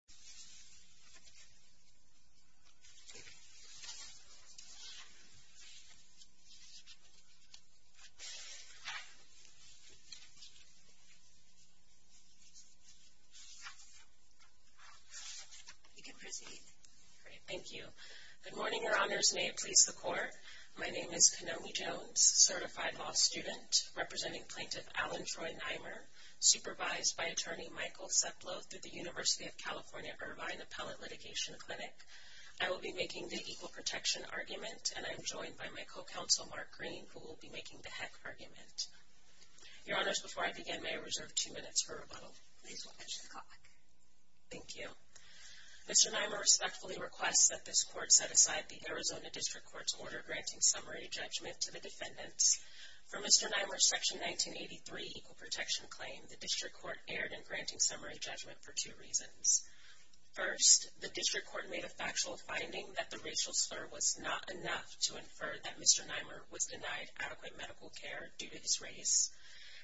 Kenomi Jones, Certified Law Student You can proceed. Great, thank you. Good morning, Your Honors. May it please the Court. My name is Kenomi Jones, Certified Law Student, representing Plaintiff Alan Troy Nimer, supervised by Attorney Michael Seplow through the University of California, Irvine Appellate Litigation Clinic. I will be making the equal protection argument, and I am joined by my co-counsel, Mark Green, who will be making the heck argument. Your Honors, before I begin, may I reserve two minutes for rebuttal? Please watch the clock. Thank you. Mr. Nimer respectfully requests that this Court set aside the Arizona District Court's order granting summary judgment to the defendants. For Mr. Nimer's Section 1983 equal protection claim, the District Court erred in granting summary judgment for two reasons. First, the District Court made a factual finding that the racial slur was not enough to infer that Mr. Nimer was denied adequate medical care due to his race.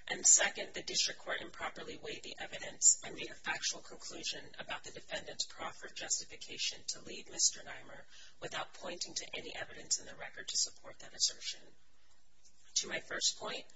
And second, the District Court improperly weighed the evidence and made a factual conclusion about the defendant's proffered justification to lead Mr. Nimer without pointing to any evidence in the record to support that assertion. To my first point,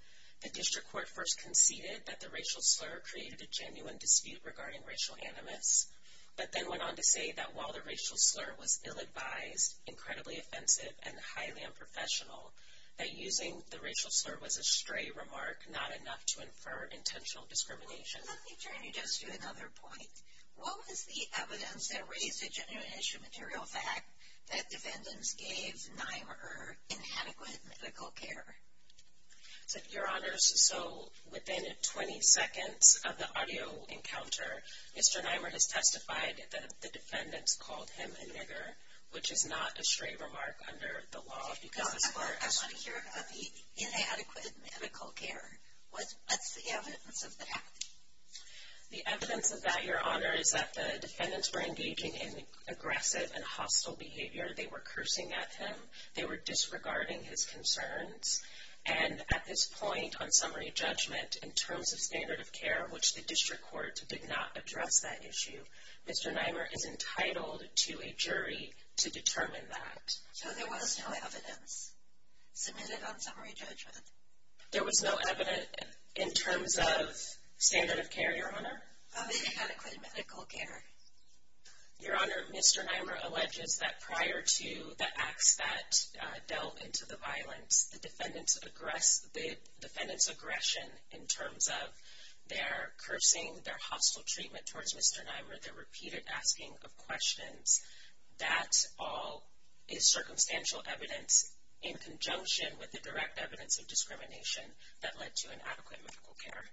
the District Court first conceded that the racial slur created a genuine dispute regarding racial animus, but then went on to say that while the racial slur was ill-advised, incredibly offensive, and highly unprofessional, that using the racial slur was a stray remark not enough to infer intentional discrimination. Let me turn you just to another point. What was the evidence that raised a genuine issue material fact that defendants gave Nimer inadequate medical care? Your Honor, so within 20 seconds of the audio encounter, Mr. Nimer has testified that the defendants called him a nigger, which is not a stray remark under the law. I want to hear about the inadequate medical care. What's the evidence of that? The evidence of that, Your Honor, is that the defendants were engaging in aggressive and hostile behavior. They were cursing at him. They were disregarding his concerns. And at this point, on summary judgment, in terms of standard of care, which the District Court did not address that issue, Mr. Nimer is entitled to a jury to determine that. So there was no evidence submitted on summary judgment? There was no evidence in terms of standard of care, Your Honor. Of inadequate medical care? Your Honor, Mr. Nimer alleges that prior to the acts that delved into the violence, the defendants' aggression in terms of their cursing, their hostile treatment towards Mr. Nimer, their repeated asking of questions, that all is circumstantial evidence in conjunction with the direct evidence of discrimination that led to inadequate medical care.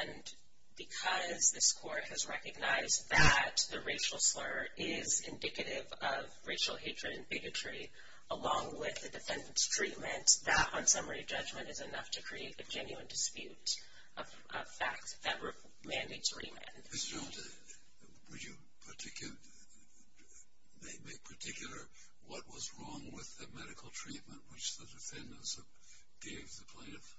And because this Court has recognized that the racial slur is indicative of racial hatred and bigotry, along with the defendants' treatment, that on summary judgment is enough to create a genuine dispute of facts that mandates remand. Ms. Jones, would you make particular what was wrong with the medical treatment which the defendants gave the plaintiffs?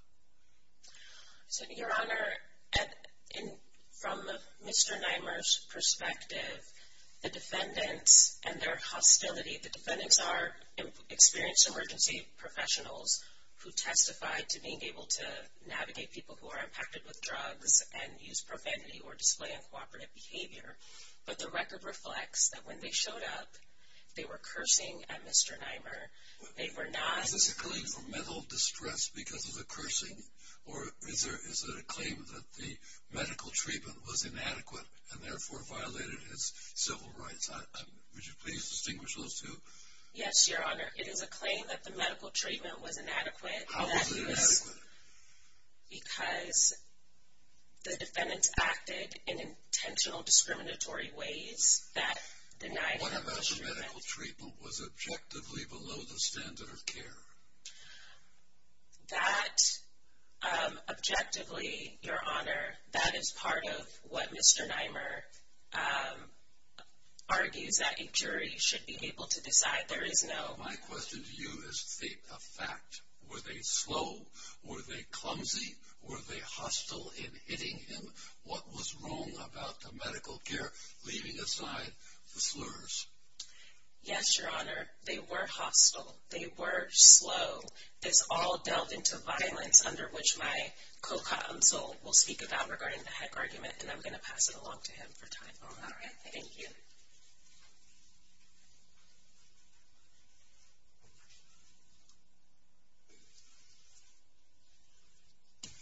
Your Honor, from Mr. Nimer's perspective, the defendants and their hostility, the defendants are experienced emergency professionals who testified to being able to navigate people who are impacted with drugs and use profanity or display uncooperative behavior. But the record reflects that when they showed up, they were cursing at Mr. Nimer. They were not... Is this a claim for mental distress because of the cursing? Or is it a claim that the medical treatment was inadequate and therefore violated his civil rights? Would you please distinguish those two? Yes, Your Honor. It is a claim that the medical treatment was inadequate. How was it inadequate? Because the defendants acted in intentional discriminatory ways that denied... What about the medical treatment was objectively below the standard of care? That, objectively, Your Honor, that is part of what Mr. Nimer argues that a jury should be able to decide. There is no... My question to you is a fact. Were they slow? Were they clumsy? Were they hostile in hitting him? What was wrong about the medical care, leaving aside the slurs? Yes, Your Honor. They were hostile. They were slow. This all delved into violence under which my co-consult will speak about regarding the Heck argument, and I'm going to pass it along to him for time. All right. Thank you.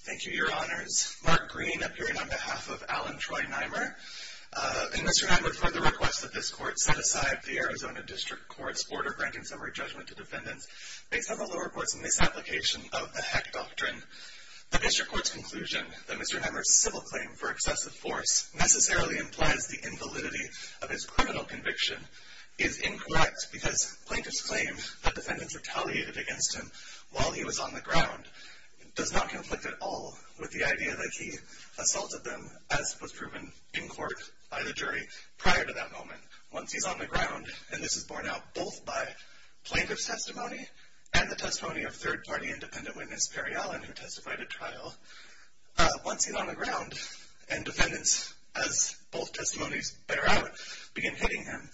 Thank you, Your Honors. Mark Green, appearing on behalf of Alan Troy Nimer. Mr. Nimer, for the request that this court set aside the Arizona District Court's order granting summary judgment to defendants based on the lower courts' misapplication of the Heck doctrine, the District Court's conclusion that Mr. Nimer's civil claim for excessive force necessarily implies the invalidity of his criminal conviction is incorrect because plaintiff's claim that defendants retaliated against him while he was on the ground does not conflict at all with the idea that he assaulted them, as was proven in court by the jury prior to that moment, and this is borne out both by plaintiff's testimony and the testimony of third-party independent witness Perry Allen, who testified at trial once he was on the ground, and defendants, as both testimonies bear out, began hitting him.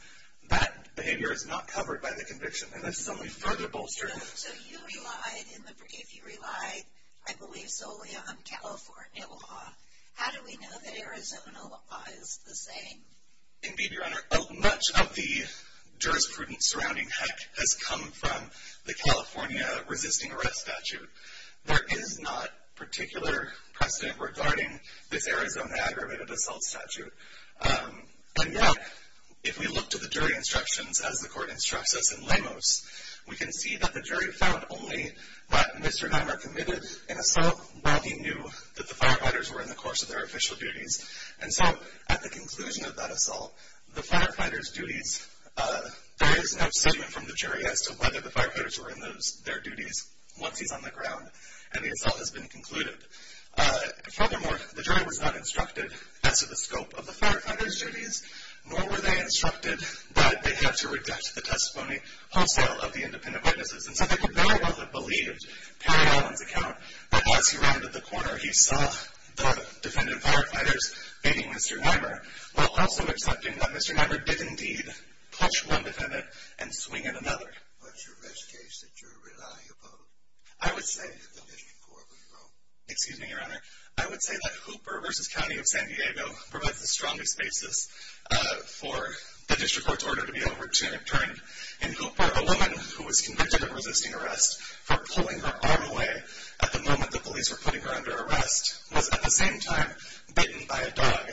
That behavior is not covered by the conviction, and this is only further bolstering... So you relied in the... You relied, I believe, solely on California law. How do we know that Arizona law is the same? Indeed, Your Honor. Oh, much of the jurisprudence surrounding Heck has come from the California resisting arrest statute. There is not particular precedent regarding this Arizona aggravated assault statute, and yet if we look to the jury instructions as the court instructs us in Lemos, we can see that the jury found only that Mr. Nimer committed an assault while he knew that the firefighters were in the course of their official duties, and so at the conclusion of that assault, the firefighters' duties... The jury was not instructed as to whether the firefighters were in their duties once he's on the ground, and the assault has been concluded. Furthermore, the jury was not instructed as to the scope of the firefighters' duties, nor were they instructed that they have to reject the testimony wholesale of the independent witnesses, and so they could very well have believed Perry Allen's account that as he rounded the corner, he saw the defendant firefighters beating Mr. Nimer while also accepting that Mr. Nimer did indeed clutch one defendant and swing at another. What's your best case that you're relying upon? I would say... The District Court of Rome. Excuse me, Your Honor. I would say that Hooper v. County of San Diego provides the strongest basis for the District Court's order to be overturned. In Hooper, a woman who was convicted of resisting arrest for pulling her arm away at the moment the police were putting her under arrest was at the same time bitten by a dog,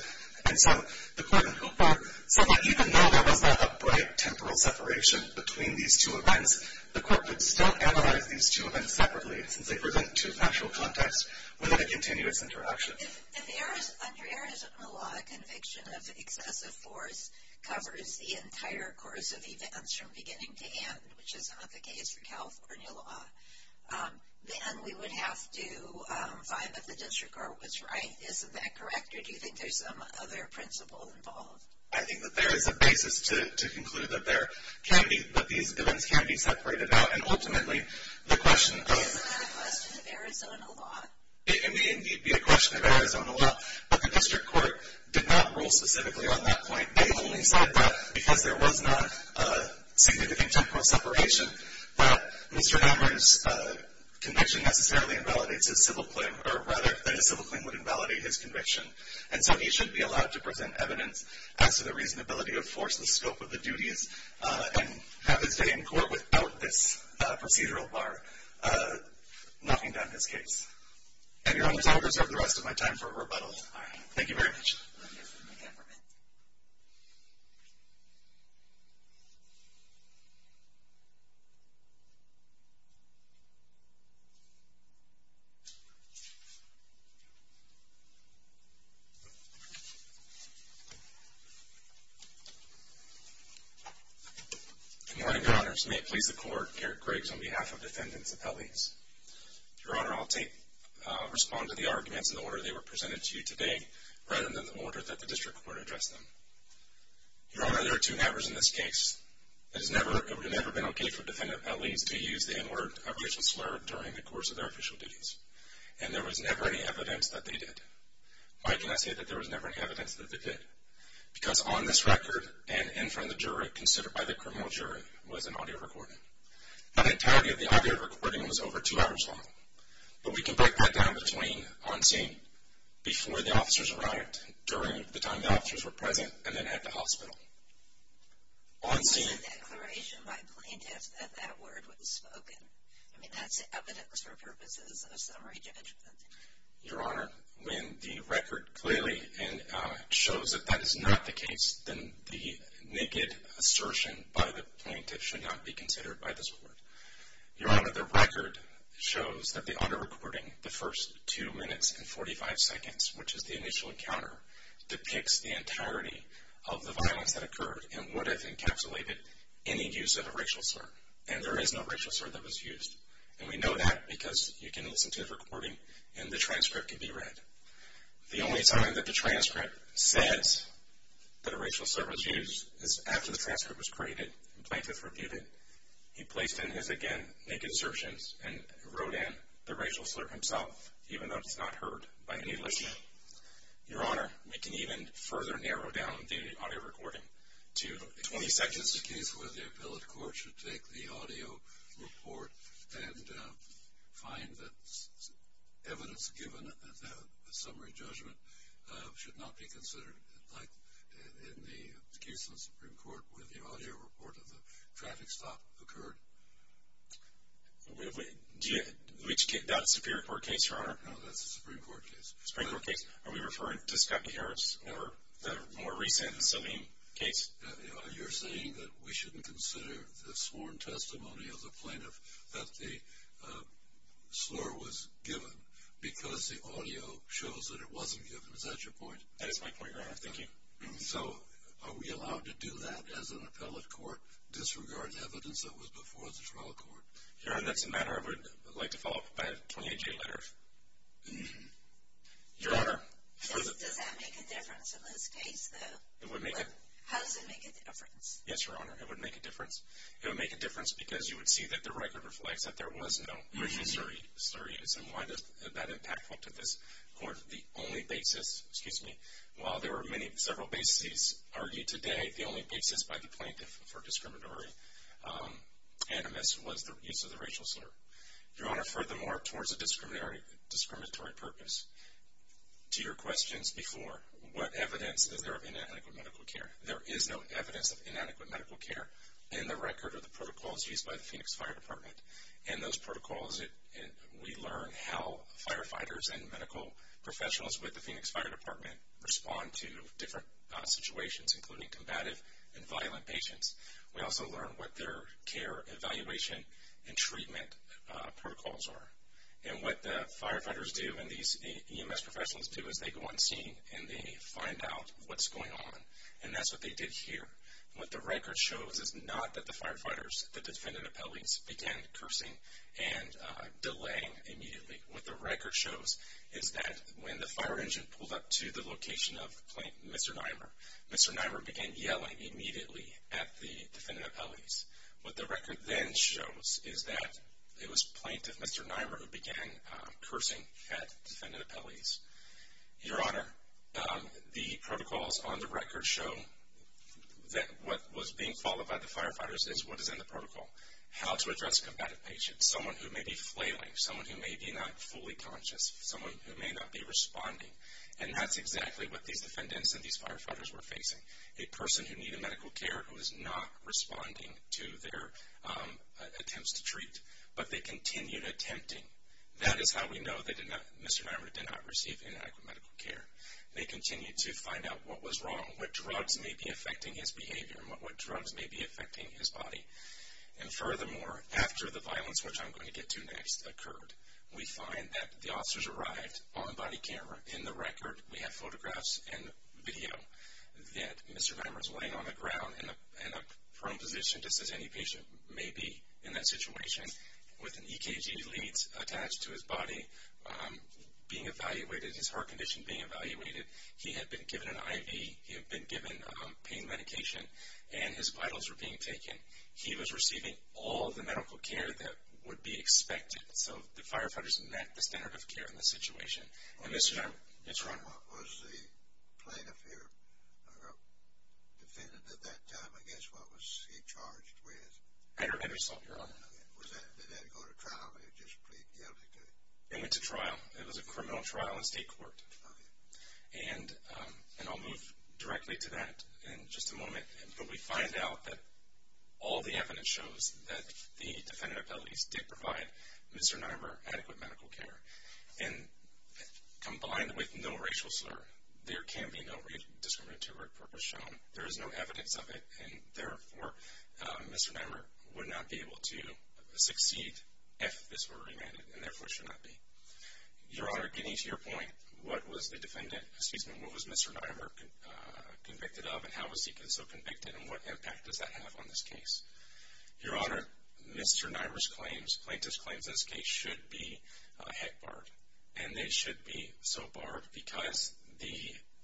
and so the court in Hooper said that even though there was not a bright temporal separation between these two events, the court would still analyze these two events separately since they pertained to a factual context without a continuous interaction. If under Arizona law, a conviction of excessive force covers the entire course of events from beginning to end, which is not the case for California law, then we would have to find that the District Court was right. Isn't that correct, or do you think there's some other principle involved? I think that there is a basis to conclude that there can be, that these events can be separated out, and ultimately the question of... Isn't that a question of Arizona law? It may indeed be a question of Arizona law, but the District Court did not rule specifically on that point. They only said that because there was not a significant temporal separation that Mr. Hammer's conviction necessarily invalidates his civil claim, or rather that his civil claim would invalidate his conviction, and so he should be allowed to present evidence as to the reasonability of force, the scope of the duties, and have his day in court without this procedural bar knocking down his case. And Your Honors, I will reserve the rest of my time for rebuttal. Thank you very much. Good morning, Your Honors. May it please the Court, Garrett Griggs on behalf of Defendants Appellees. Your Honor, I'll respond to the arguments in the order they were presented to you today rather than the order that the District Court addressed them. Your Honor, there are two nevers in this case. It would have never been okay for Defendant Appellees to use the N-word of racial slur during the course of their official duties, and there was never any evidence that they did. Why can I say that there was never any evidence that they did? Because on this record and in front of the jury, considered by the criminal jury, was an audio recording. Now, the entirety of the audio recording was over two hours long, but we can break that down between on scene, before the officers arrived, during the time the officers were present, and then at the hospital. On scene... It's a declaration by plaintiffs that that word was spoken. I mean, that's evidence for purposes of summary judgment. Your Honor, when the record clearly shows that that is not the case, then the naked assertion by the plaintiff should not be considered by this Court. Your Honor, the record shows that the audio recording, the first two minutes and 45 seconds, which is the initial encounter, depicts the entirety of the violence that occurred and would have encapsulated any use of a racial slur. And there is no racial slur that was used. And we know that because you can listen to the recording and the transcript can be read. The only time that the transcript says that a racial slur was used is after the transcript was created and the plaintiff repeated it. He placed in his, again, naked assertions and wrote in the racial slur himself, even though it's not heard by any listener. Your Honor, we can even further narrow down the audio recording to 20 sections. This is a case where the appellate court should take the audio report and find that evidence given at the summary judgment should not be considered, like in the case of the Supreme Court where the audio report of the traffic stop occurred. Which case? That Supreme Court case, Your Honor? No, that's the Supreme Court case. The Supreme Court case? Are we referring to Scotty Harris or the more recent Salim case? You're saying that we shouldn't consider the sworn testimony of the plaintiff that the slur was given because the audio shows that it wasn't given. Is that your point? That is my point, Your Honor. Thank you. So are we allowed to do that as an appellate court, disregard evidence that was before the trial court? Your Honor, that's a matter I would like to follow up on. I have 28-day letters. Your Honor? Does that make a difference in this case, though? How does it make a difference? Yes, Your Honor, it would make a difference. It would make a difference because you would see that the record reflects that there was no racial slur used. And why is that impactful to this court? The only basis, excuse me, while there were several bases argued today, the only basis by the plaintiff for discriminatory animus was the use of the racial slur. Your Honor, furthermore, towards a discriminatory purpose, to your questions before, what evidence is there of inadequate medical care? There is no evidence of inadequate medical care in the record or the protocols used by the Phoenix Fire Department. And those protocols, we learn how firefighters and medical professionals with the Phoenix Fire Department respond to different situations, including combative and violent patients. We also learn what their care evaluation and treatment protocols are. And what the firefighters do and these EMS professionals do is they go on scene and they find out what's going on. And that's what they did here. What the record shows is not that the firefighters, the defendant appellees, began cursing and delaying immediately. What the record shows is that when the fire engine pulled up to the location of Mr. Nimer, Mr. Nimer began yelling immediately at the defendant appellees. What the record then shows is that it was Plaintiff Mr. Nimer who began cursing at defendant appellees. Your Honor, the protocols on the record show that what was being followed by the firefighters is what is in the protocol. How to address combative patients, someone who may be flailing, someone who may be not fully conscious, someone who may not be responding. And that's exactly what these defendants and these firefighters were facing. A person who needed medical care who was not responding to their attempts to treat, but they continued attempting. That is how we know that Mr. Nimer did not receive inadequate medical care. They continued to find out what was wrong, what drugs may be affecting his behavior, and what drugs may be affecting his body. And furthermore, after the violence, which I'm going to get to next, occurred, we find that the officers arrived on body camera. In the record, we have photographs and video that Mr. Nimer is laying on the ground in a prone position, just as any patient may be in that situation, with an EKG lead attached to his body being evaluated, his heart condition being evaluated. He had been given an IV. He had been given pain medication, and his vitals were being taken. He was receiving all the medical care that would be expected. So the firefighters met the standard of care in this situation. And Mr. Nimer, yes, Your Honor? What was the plaintiff here, or defendant at that time, I guess, what was he charged with? I don't have your result, Your Honor. Did that go to trial, or did they just plead guilty to it? It went to trial. It was a criminal trial in state court. And I'll move directly to that in just a moment. But we find out that all the evidence shows that the defendant, at least, did provide Mr. Nimer adequate medical care. And combined with no racial slur, there can be no discriminatory purpose shown. There is no evidence of it. And therefore, Mr. Nimer would not be able to succeed if this were remanded, and therefore should not be. Your Honor, getting to your point, what was the defendant, excuse me, what was Mr. Nimer convicted of, and how was he so convicted, and what impact does that have on this case? Your Honor, Mr. Nimer's claims, plaintiff's claims in this case, should be heck barred. And they should be so barred because the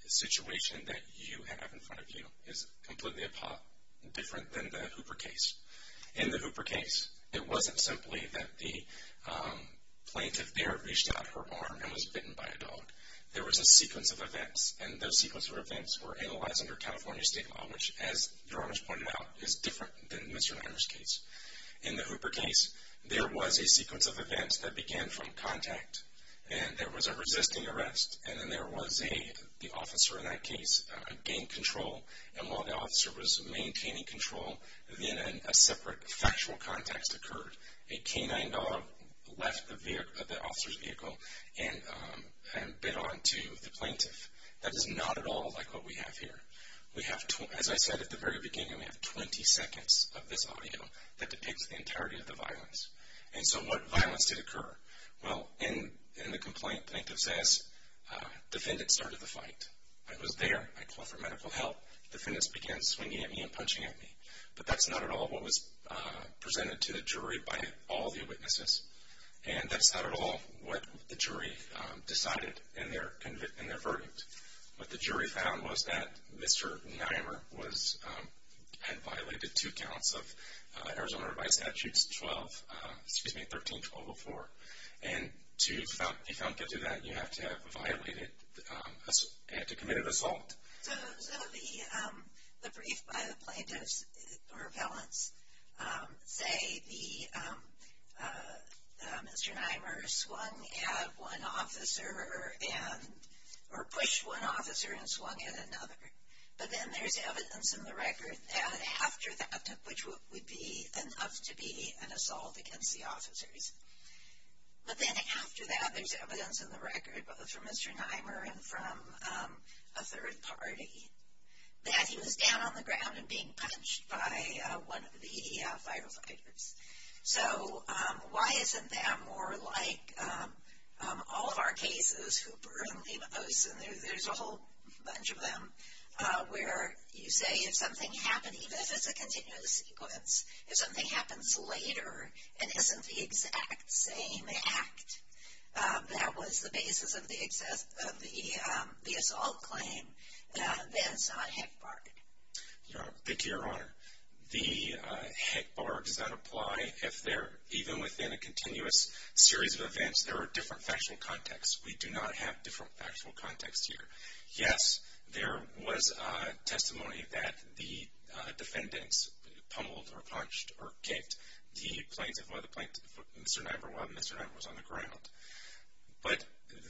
situation that you have in front of you is completely different than the Hooper case. In the Hooper case, it wasn't simply that the plaintiff there reached out her arm and was bitten by a dog. There was a sequence of events, and those sequence of events were analyzed under California state law, which, as Your Honor's pointed out, is different than Mr. Nimer's case. In the Hooper case, there was a sequence of events that began from contact, and there was a resisting arrest, and then there was the officer in that case gained control. And while the officer was maintaining control, then a separate factual context occurred. A canine dog left the officer's vehicle and bit onto the plaintiff. That is not at all like what we have here. As I said at the very beginning, we have 20 seconds of this audio that depicts the entirety of the violence. And so what violence did occur? Well, in the complaint, the plaintiff says, defendant started the fight. I was there. I called for medical help. Defendants began swinging at me and punching at me. But that's not at all what was presented to the jury by all the witnesses, and that's not at all what the jury decided in their verdict. What the jury found was that Mr. Nimer had violated two counts of Arizona Revised Statutes 12, excuse me, 13, 1204. And to be found guilty of that, you have to have committed assault. So the brief by the plaintiff's repellents say Mr. Nimer swung at one officer or pushed one officer and swung at another. But then there's evidence in the record that after that, which would be enough to be an assault against the officers. But then after that, there's evidence in the record, both from Mr. Nimer and from a third party, that he was down on the ground and being punched by one of the firefighters. So why isn't that more like all of our cases, Hooper and Leibovitz, and there's a whole bunch of them where you say if something happened, even if it's a continuous sequence, if something happens later and isn't the exact same act, that was the basis of the assault claim, that's not HECBARG. Thank you, Your Honor. The HECBARGs that apply, if they're even within a continuous series of events, there are different factual contexts. We do not have different factual contexts here. Yes, there was testimony that the defendants pummeled or punched or kicked the plaintiff while Mr. Nimer was on the ground. But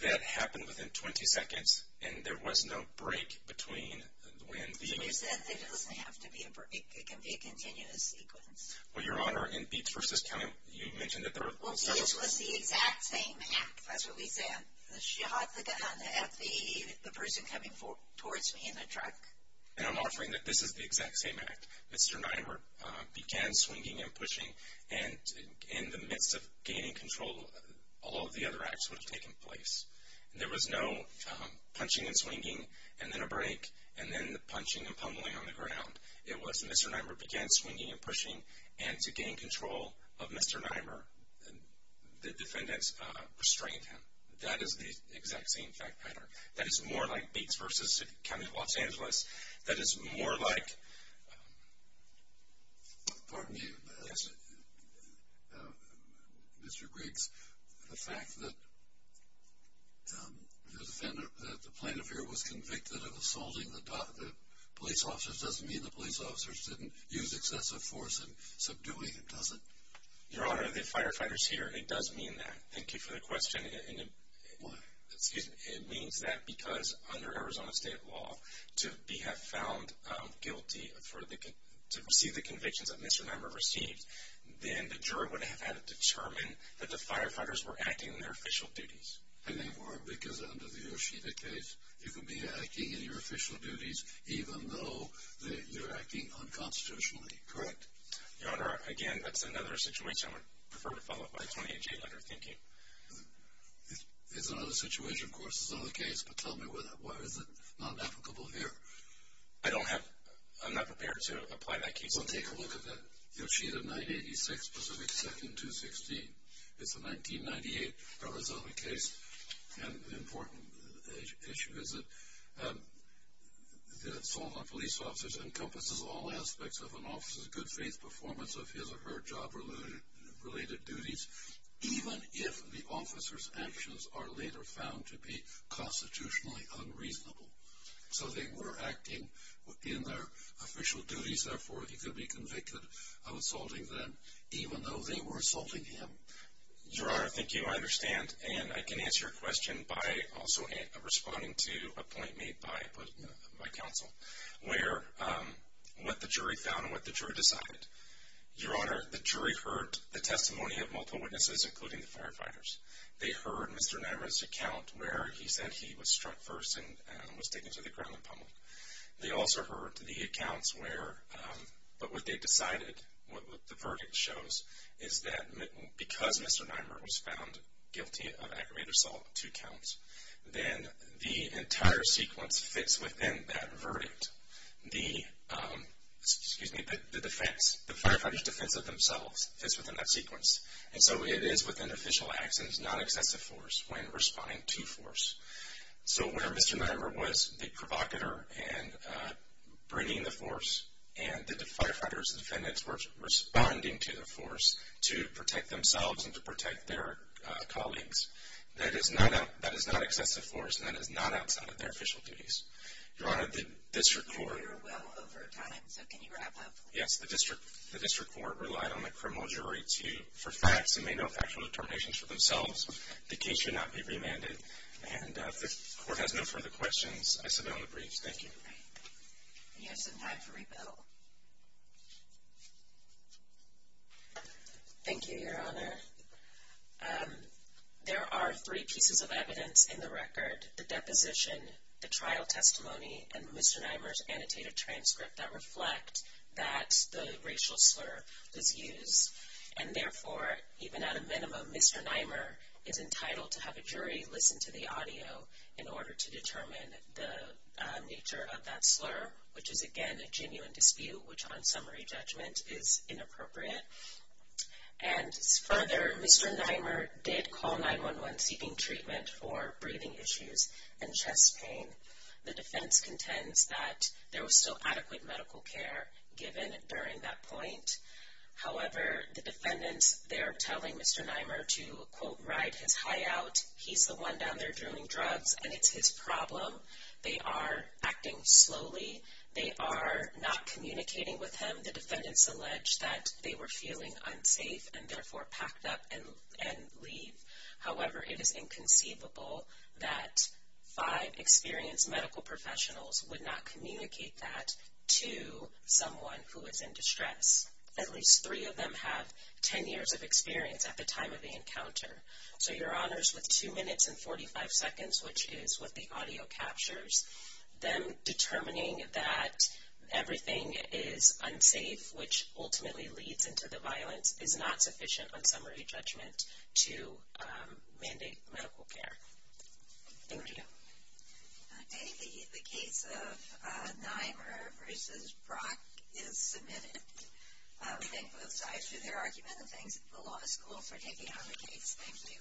that happened within 20 seconds, and there was no break between when the event happened. You said that it doesn't have to be a break. It can be a continuous sequence. Well, Your Honor, in Beets v. County, you mentioned that there were several. Well, this was the exact same act. That's what we said. She had the gun at the person coming towards me in the truck. And I'm offering that this is the exact same act. Mr. Nimer began swinging and pushing, and in the midst of gaining control, all of the other acts would have taken place. There was no punching and swinging and then a break, and then the punching and pummeling on the ground. It was Mr. Nimer began swinging and pushing, and to gain control of Mr. Nimer, the defendants restrained him. That is the exact same fact pattern. That is more like Beets v. County of Los Angeles. That is more like Mr. Griggs, the fact that the plaintiff here was convicted of assaulting the police officers doesn't mean the police officers didn't use excessive force in subduing him, does it? Your Honor, the firefighter is here, and it does mean that. Thank you for the question. Why? It means that because under Arizona state law, to have found guilty to receive the convictions that Mr. Nimer received, then the jury would have had to determine that the firefighters were acting in their official duties. And they were, because under the Yoshida case, you could be acting in your official duties even though you're acting unconstitutionally, correct? Your Honor, again, that's another situation. I would prefer to follow up by 20-8-8 on your thinking. It's another situation, of course. It's another case. But tell me, why is it not applicable here? I don't have—I'm not prepared to apply that case. Well, take a look at that. Yoshida, 9-86, Pacific 2nd, 216. It's a 1998 Arizona case, and the important issue is that assaulting police officers encompasses all aspects of an officer's good faith performance of his or her job-related duties, even if the officer's actions are later found to be constitutionally unreasonable. So they were acting in their official duties. Therefore, he could be convicted of assaulting them, even though they were assaulting him. Your Honor, thank you. I understand, and I can answer your question by also responding to a point made by counsel, where what the jury found and what the jury decided. Your Honor, the jury heard the testimony of multiple witnesses, including the firefighters. They heard Mr. Nymer's account where he said he was struck first and was taken to the ground and pummeled. They also heard the accounts where—but what they decided, what the verdict shows, is that because Mr. Nymer was found guilty of aggravated assault, two counts, then the entire sequence fits within that verdict. The firefighter's defense of themselves fits within that sequence, and so it is within official acts and is not excessive force when responding to force. So where Mr. Nymer was the provocateur in bringing the force and the firefighters and defendants were responding to the force to protect themselves and to protect their colleagues, that is not excessive force, and that is not outside of their official duties. Your Honor, the district court— You're well over time, so can you wrap up? Yes, the district court relied on the criminal jury for facts and made no factual determinations for themselves. The case should not be remanded. And if the court has no further questions, I submit on the briefs. Thank you. You have some time for rebuttal. Thank you, Your Honor. There are three pieces of evidence in the record. The deposition, the trial testimony, and Mr. Nymer's annotated transcript that reflect that the racial slur was used. And therefore, even at a minimum, Mr. Nymer is entitled to have a jury listen to the audio in order to determine the nature of that slur, which is, again, a genuine dispute, which on summary judgment is inappropriate. And further, Mr. Nymer did call 911 seeking treatment for breathing issues and chest pain. The defense contends that there was still adequate medical care given during that point. However, the defendants, they're telling Mr. Nymer to, quote, ride his high out. He's the one down there doing drugs, and it's his problem. They are acting slowly. They are not communicating with him. The defendants allege that they were feeling unsafe and, therefore, packed up and leave. However, it is inconceivable that five experienced medical professionals would not communicate that to someone who was in distress. At least three of them have 10 years of experience at the time of the encounter. So, Your Honors, with 2 minutes and 45 seconds, which is what the audio captures, them determining that everything is unsafe, which ultimately leads into the violence, is not sufficient on summary judgment to mandate medical care. Thank you. The case of Nymer v. Brock is submitted. We thank both sides for their argument, and thanks to the law school for taking on the case. Thank you.